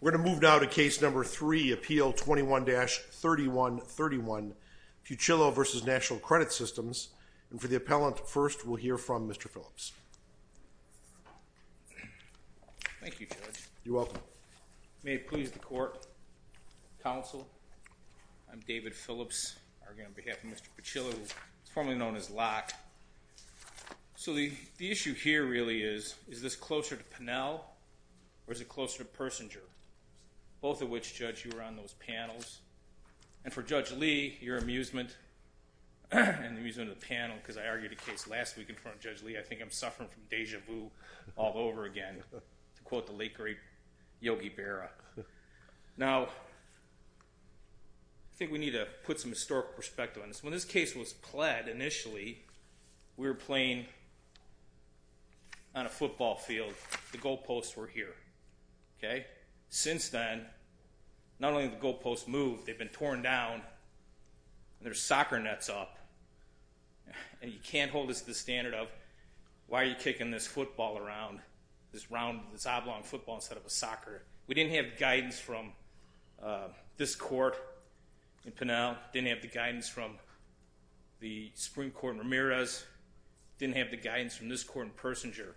We're going to move now to case number 3, Appeal 21-3131, Pucillo v. National Credit Systems. And for the appellant first, we'll hear from Mr. Phillips. Thank you, Judge. You're welcome. May it please the Court, Counsel, I'm David Phillips, arguing on behalf of Mr. Pucillo, formerly known as Locke. So the issue here really is, is this closer to Pinnell or is it closer to Persinger, both of which, Judge, you were on those panels. And for Judge Lee, your amusement, and the amusement of the panel, because I argued a case last week in front of Judge Lee, I think I'm suffering from deja vu all over again, to quote the late great Yogi Berra. Now I think we need to put some historic perspective on this. So when this case was pled initially, we were playing on a football field, the goalposts were here. Okay? Since then, not only have the goalposts moved, they've been torn down, and there's soccer nets up. And you can't hold this to the standard of, why are you kicking this football around, this oblong football instead of a soccer? We didn't have guidance from this court in Pinnell, didn't have the guidance from the Supreme Court in Ramirez, didn't have the guidance from this court in Persinger.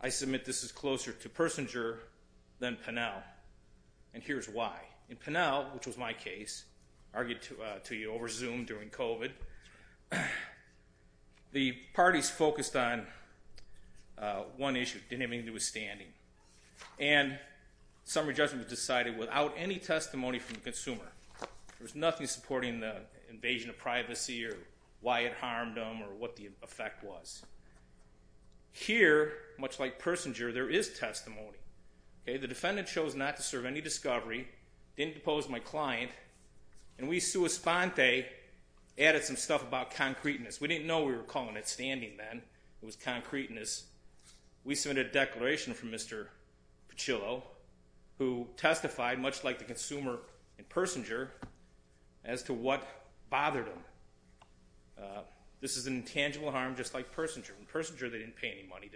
I submit this is closer to Persinger than Pinnell. And here's why. In Pinnell, which was my case, argued to you over Zoom during COVID, the parties focused on one issue, didn't have anything to do with standing. And summary judgment was decided without any testimony from the consumer. There was nothing supporting the invasion of privacy or why it harmed them or what the effect was. Here, much like Persinger, there is testimony. The defendant chose not to serve any discovery, didn't depose my client, and we, sua sponte, added some stuff about concreteness. We didn't know we were calling it standing then. It was concreteness. We submitted a declaration from Mr. Piccillo, who testified, much like the consumer in Persinger, as to what bothered him. This is an intangible harm, just like Persinger. In Persinger, they didn't pay any money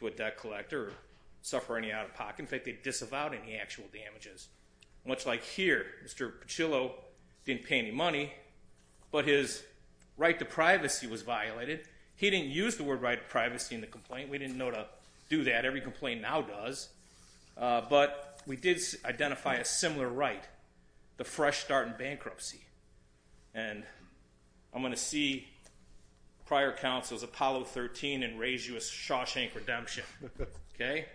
to a debt collector or suffer any out-of-pocket. In fact, they disavowed any actual damages. Much like here, Mr. Piccillo didn't pay any money, but his right to privacy was violated. He didn't use the word right to privacy in the complaint. We didn't know to do that. Every complaint now does. But we did identify a similar right, the fresh start in bankruptcy. And I'm going to see prior counsels, Apollo 13, and raise you a Shawshank Redemption. Okay?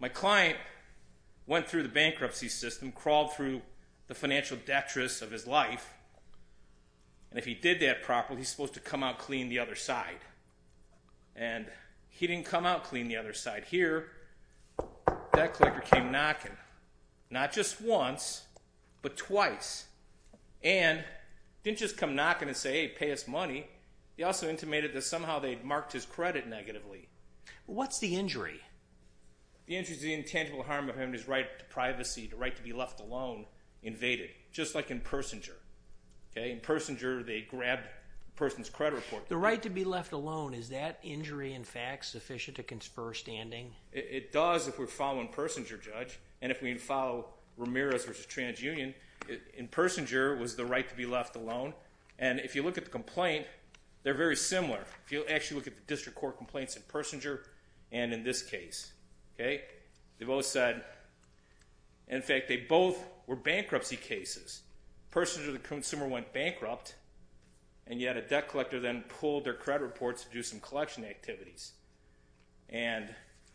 My client went through the bankruptcy system, crawled through the financial detritus of his life, and if he did that properly, he's supposed to come out clean the other side. And he didn't come out clean the other side. Here, that collector came knocking, not just once, but twice. And he didn't just come knocking and say, hey, pay us money. He also intimated that somehow they'd marked his credit negatively. What's the injury? The injury is the intangible harm of having his right to privacy, the right to be left alone, invaded. Just like in Persinger. Okay? In Persinger, they grabbed the person's credit report. The right to be left alone, is that injury, in fact, sufficient to confer standing? It does if we're following Persinger, Judge. And if we follow Ramirez v. TransUnion, in Persinger was the right to be left alone. And if you look at the complaint, they're very similar. If you actually look at the district court complaints in Persinger and in this case, okay, they both said, in fact, they both were bankruptcy cases. Persinger, the consumer, went bankrupt, and yet a debt collector then pulled their credit reports to do some collection activities. And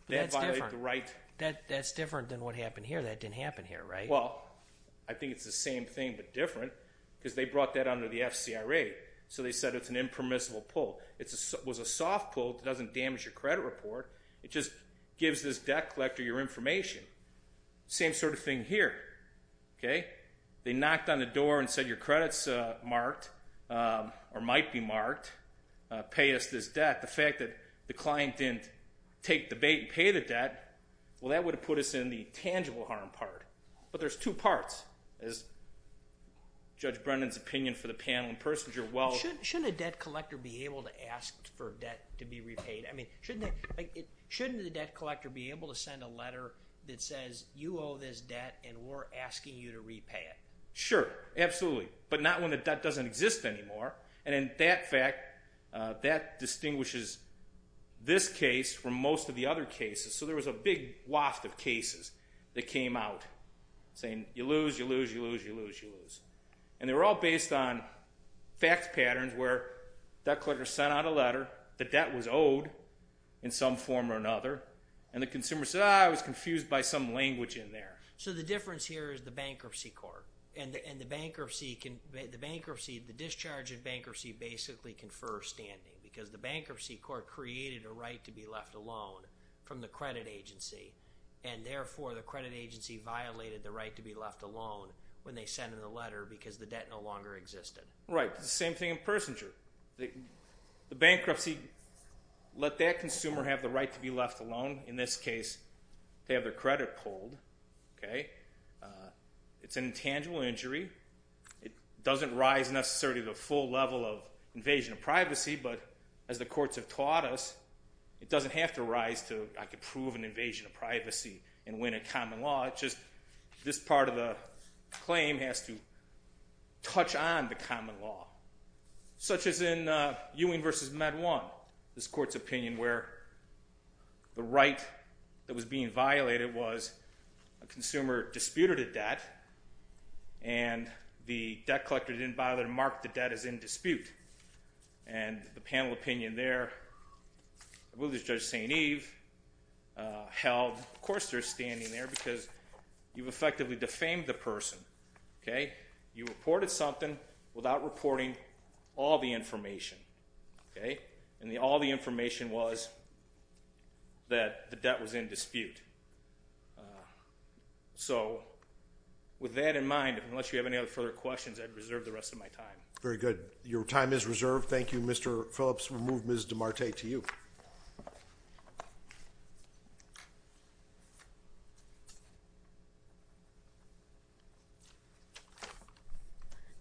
that violated the right. That's different than what happened here. That didn't happen here, right? Well, I think it's the same thing but different, because they brought that under the FCRA. So they said it's an impermissible pull. It was a soft pull. It doesn't damage your credit report. It just gives this debt collector your information. Same sort of thing here, okay? They knocked on the door and said, your credit's marked, or might be marked. Pay us this debt. The fact that the client didn't take the bait and pay the debt, well, that would have put us in the tangible harm part. But there's two parts, as Judge Brennan's opinion for the panel in Persinger, well... Shouldn't a debt collector be able to ask for debt to be repaid? I mean, shouldn't the debt collector be able to send a letter that says, you owe this debt and we're asking you to repay it? Sure, absolutely. But not when the debt doesn't exist anymore. And in that fact, that distinguishes this case from most of the other cases. So there was a big waft of cases that came out saying, you lose, you lose, you lose, you lose, you lose. And they were all based on fact patterns where debt collector sent out a letter, the debt was owed in some form or another, and the consumer said, ah, I was confused by some language in there. So the difference here is the bankruptcy court. And the bankruptcy, the discharge of bankruptcy basically confers standing, because the bankruptcy court created a right to be left alone from the credit agency. And therefore, the credit agency violated the right to be left alone when they sent in the letter because the debt no longer existed. Right. The same thing in Persinger. The bankruptcy let that consumer have the right to be left alone. In this case, they have their credit pulled, okay? It's an intangible injury. It doesn't rise necessarily to the full level of invasion of privacy, but as the courts have taught us, it doesn't have to rise to, I could prove an invasion of privacy and win a common law. It's just this part of the claim has to touch on the common law, such as in Ewing versus Med One, this court's opinion where the right that was being violated was a consumer disputed a debt, and the debt collector didn't bother to mark the debt as in dispute. And the panel opinion there, I believe it was Judge St. Eve, held, of course there's standing there because you've effectively defamed the person, okay? You reported something without reporting all the information, okay? And all the information was that the debt was in dispute. So with that in mind, unless you have any other further questions, I'd reserve the rest of my time. Very good. Your time is reserved. Thank you, Mr. Phillips. We'll move Ms. DeMarte to you.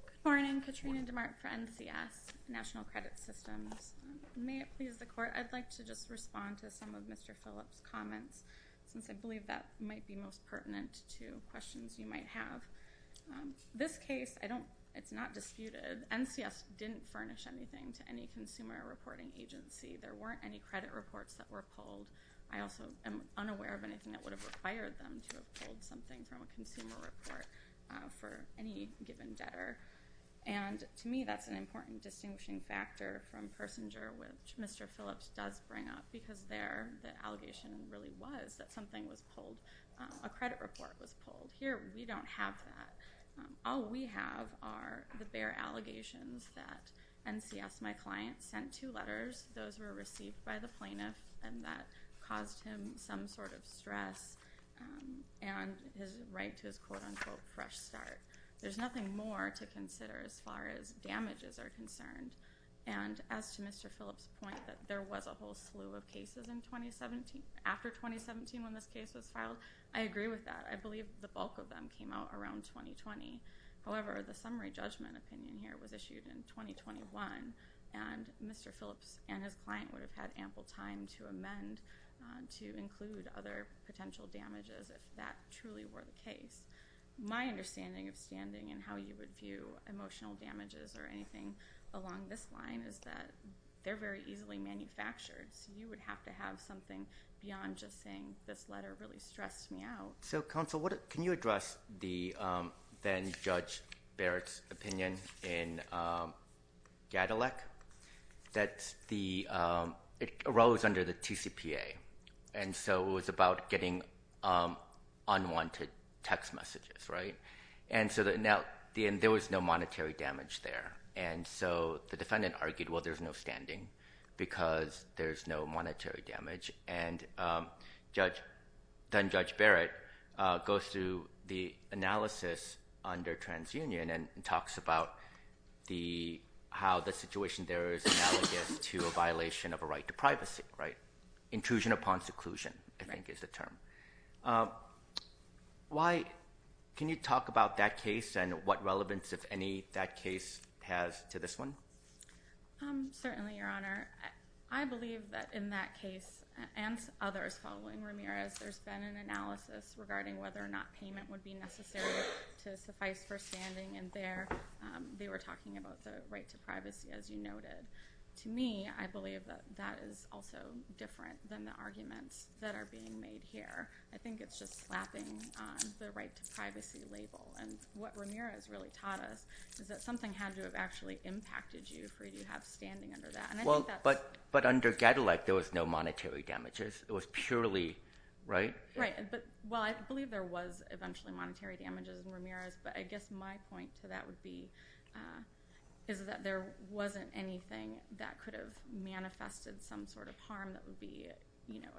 Good morning. Katrina DeMarte for NCS, National Credit Systems. May it please the Court, I'd like to just respond to some of Mr. Phillips' comments, since I believe that might be most pertinent to questions you might have. This case, it's not disputed. NCS didn't furnish anything to any consumer reporting agency. There weren't any credit reports that were pulled. I also am unaware of anything that would have required them to have pulled something from a consumer report for any given debtor. And to me, that's an important distinguishing factor from Persinger, which Mr. Phillips does bring up, because there the allegation really was that something was pulled, a credit report was pulled. Here, we don't have that. All we have are the bare allegations that NCS, my client, sent two letters, those were received by the plaintiff, and that caused him some sort of stress and his right to his quote-unquote fresh start. There's nothing more to consider as far as damages are concerned. And as to Mr. Phillips' point that there was a whole slew of cases in 2017, after 2017 when this case was filed, I agree with that. I believe the bulk of them came out around 2020. However, the summary judgment opinion here was issued in 2021, and Mr. Phillips and his client would have had ample time to amend, to include other potential damages if that truly were the case. My understanding of standing and how you would view emotional damages or anything along this line is that they're very easily manufactured, so you would have to have something beyond just saying this letter really stressed me out. So, counsel, can you address the then-Judge Barrett's opinion in Gadalec that it arose under the TCPA, and so it was about getting unwanted text messages, right? And so there was no monetary damage there, and so the defendant argued, well, there's no standing because there's no monetary damage. And then-Judge Barrett goes through the analysis under TransUnion and talks about how the situation there is analogous to a violation of a right to privacy, right? Intrusion upon seclusion, I think, is the term. Can you talk about that case and what relevance, if any, that case has to this one? Certainly, Your Honor. I believe that in that case, and others following Ramirez, there's been an analysis regarding whether or not payment would be necessary to suffice for standing, and there they were talking about the right to privacy, as you noted. To me, I believe that that is also different than the arguments that are being made here. I think it's just slapping the right to privacy label, and what Ramirez really taught us is that something had to have actually impacted you for you to have standing under that. But under Gedelec, there was no monetary damages. It was purely, right? Right. Well, I believe there was eventually monetary damages in Ramirez, but I guess my point to that would be is that there wasn't anything that could have manifested some sort of harm that would be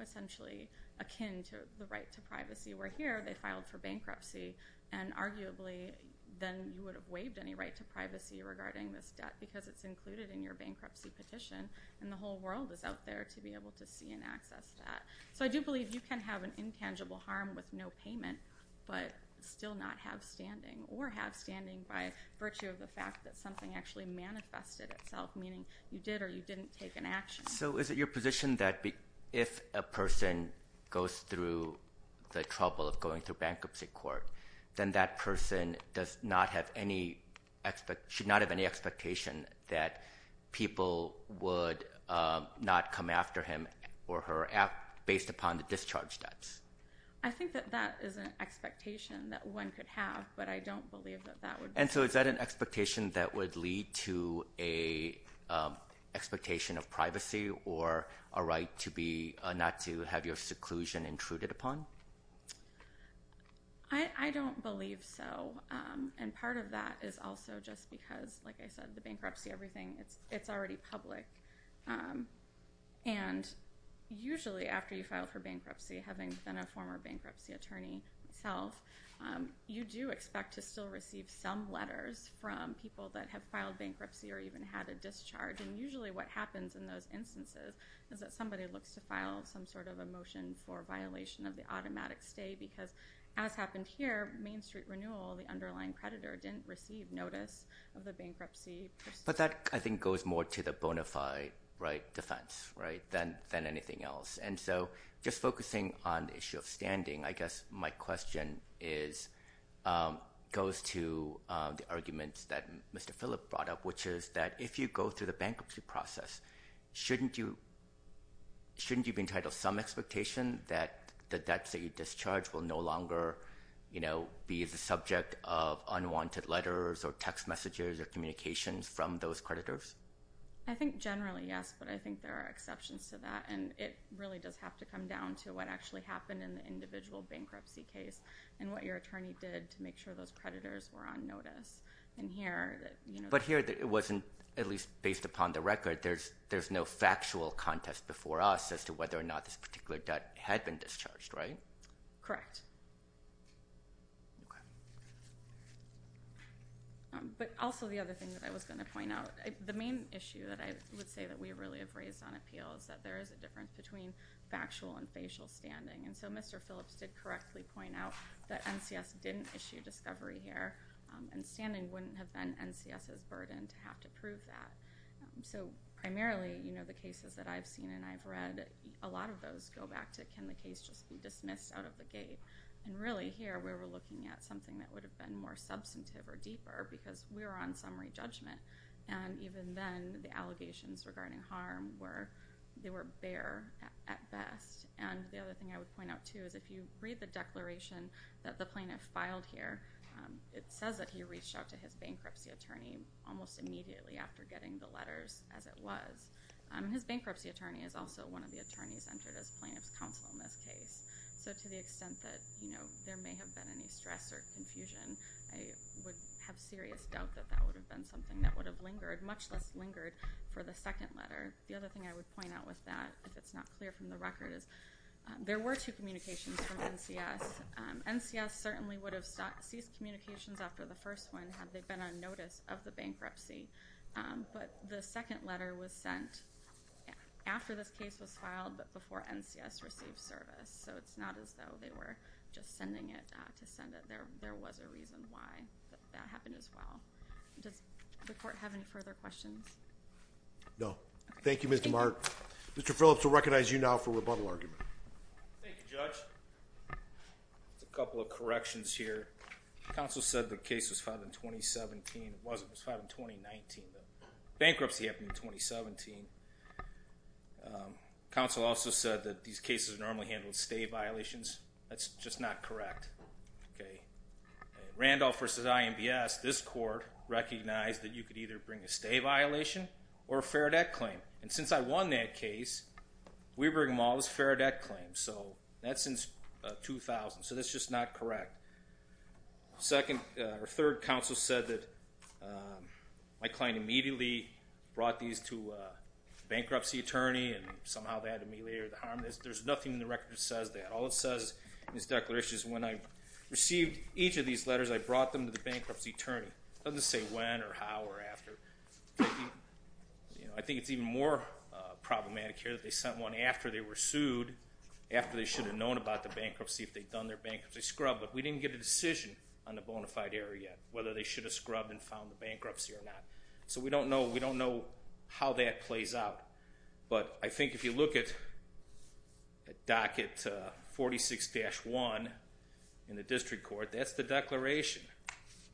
essentially akin to the right to privacy, where here, they filed for bankruptcy, and arguably, then you would have waived any right to privacy regarding this debt because it's included in your bankruptcy petition, and the whole world is out there to be able to see and access that. So I do believe you can have an intangible harm with no payment, but still not have standing, or have standing by virtue of the fact that something actually manifested itself, meaning you did or you didn't take an action. So is it your position that if a person goes through the trouble of going through bankruptcy court, then that person does not have any – should not have any expectation that people would not come after him or her based upon the discharge debts? I think that that is an expectation that one could have, but I don't believe that that would be – And so is that an expectation that would lead to an expectation of privacy or a right to be – not to have your seclusion intruded upon? I don't believe so, and part of that is also just because, like I said, the bankruptcy, everything, it's already public, and usually after you file for bankruptcy, having been a former bankruptcy attorney yourself, you do expect to still receive some letters from people that have filed bankruptcy or even had a discharge, and usually what happens in those instances is that somebody looks to file some sort of a motion for violation of the automatic stay because, as happened here, Main Street Renewal, the underlying creditor, didn't receive notice of the bankruptcy. But that, I think, goes more to the bona fide defense than anything else. And so just focusing on the issue of standing, I guess my question goes to the arguments that Mr. Phillip brought up, which is that if you go through the bankruptcy process, shouldn't you be entitled to some expectation that the debts that you discharge will no longer be the subject of unwanted letters or text messages or communications from those creditors? I think generally, yes, but I think there are exceptions to that, and it really does have to come down to what actually happened in the individual bankruptcy case and what your attorney did to make sure those creditors were on notice. But here, it wasn't, at least based upon the record, there's no factual contest before us as to whether or not this particular debt had been discharged, right? Correct. But also the other thing that I was going to point out, the main issue that I would say that we really have raised on appeal is that there is a difference between factual and facial standing. And so Mr. Phillips did correctly point out that NCS didn't issue discovery here, and standing wouldn't have been NCS's burden to have to prove that. So primarily, you know, the cases that I've seen and I've read, a lot of those go back to, can the case just be dismissed out of the gate? And really here, we were looking at something that would have been more substantive or deeper because we were on summary judgment. And even then, the allegations regarding harm were, they were bare at best. And the other thing I would point out, too, is if you read the declaration that the plaintiff filed here, it says that he reached out to his bankruptcy attorney almost immediately after getting the letters, as it was. His bankruptcy attorney is also one of the attorneys entered as plaintiff's counsel in this case. So to the extent that, you know, there may have been any stress or confusion, I would have serious doubt that that would have been something that would have lingered, much less lingered for the second letter. The other thing I would point out with that, if it's not clear from the record, is there were two communications from NCS. NCS certainly would have ceased communications after the first one, had they been on notice of the bankruptcy. But the second letter was sent after this case was filed, but before NCS received service. So it's not as though they were just sending it to send it. There was a reason why that happened as well. Does the court have any further questions? No. Thank you, Mr. Mark. Mr. Phillips will recognize you now for rebuttal argument. Thank you, Judge. A couple of corrections here. Counsel said the case was filed in 2017. It wasn't. It was filed in 2019. Bankruptcy happened in 2017. Counsel also said that these cases normally handled stay violations. That's just not correct. Okay. Randolph versus IMBS, this court recognized that you could either bring a stay violation or a fair debt claim. And since I won that case, we bring them all as fair debt claims. So that's since 2000. So that's just not correct. Second, or third, counsel said that my client immediately brought these to a bankruptcy attorney and somehow they had to ameliorate the harm. There's nothing in the record that says that. All it says in this declaration is when I received each of these letters, I brought them to the bankruptcy attorney. It doesn't say when or how or after. I think it's even more problematic here that they sent one after they were sued, after they should have known about the bankruptcy, if they'd done their bankruptcy scrub. But we didn't get a decision on the bona fide error yet, whether they should have scrubbed and found the bankruptcy or not. So we don't know how that plays out. But I think if you look at docket 46-1 in the district court, that's the declaration.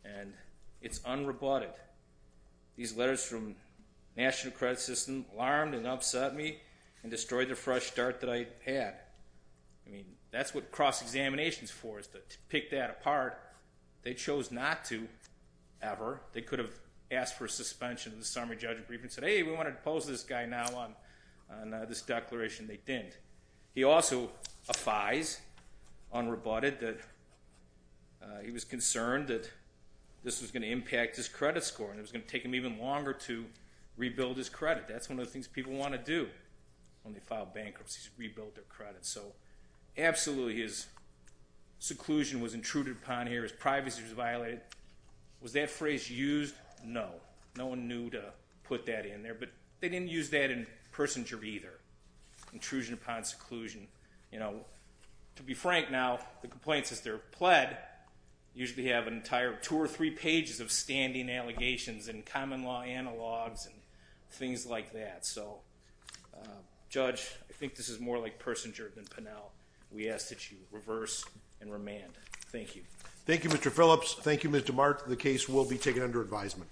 And it's unrebutted. These letters from national credit system alarmed and upset me and destroyed the fresh start that I had. I mean, that's what cross-examination is for, is to pick that apart. They chose not to ever. They could have asked for a suspension. The summary judge said, hey, we want to depose this guy now on this declaration. They didn't. He also affides unrebutted that he was concerned that this was going to impact his credit score and it was going to take him even longer to rebuild his credit. That's one of the things people want to do when they file bankruptcies, rebuild their credit. So absolutely, his seclusion was intruded upon here. His privacy was violated. Was that phrase used? No. No one knew to put that in there. But they didn't use that in Persinger either. Intrusion upon seclusion. You know, to be frank now, the complaints that are pled usually have an entire two or three pages of standing allegations and common law analogs and things like that. So, Judge, I think this is more like Persinger than Pinnell. We ask that you reverse and remand. Thank you. Thank you, Mr. Phillips. Thank you, Mr. Mark. The case will be taken under advisement.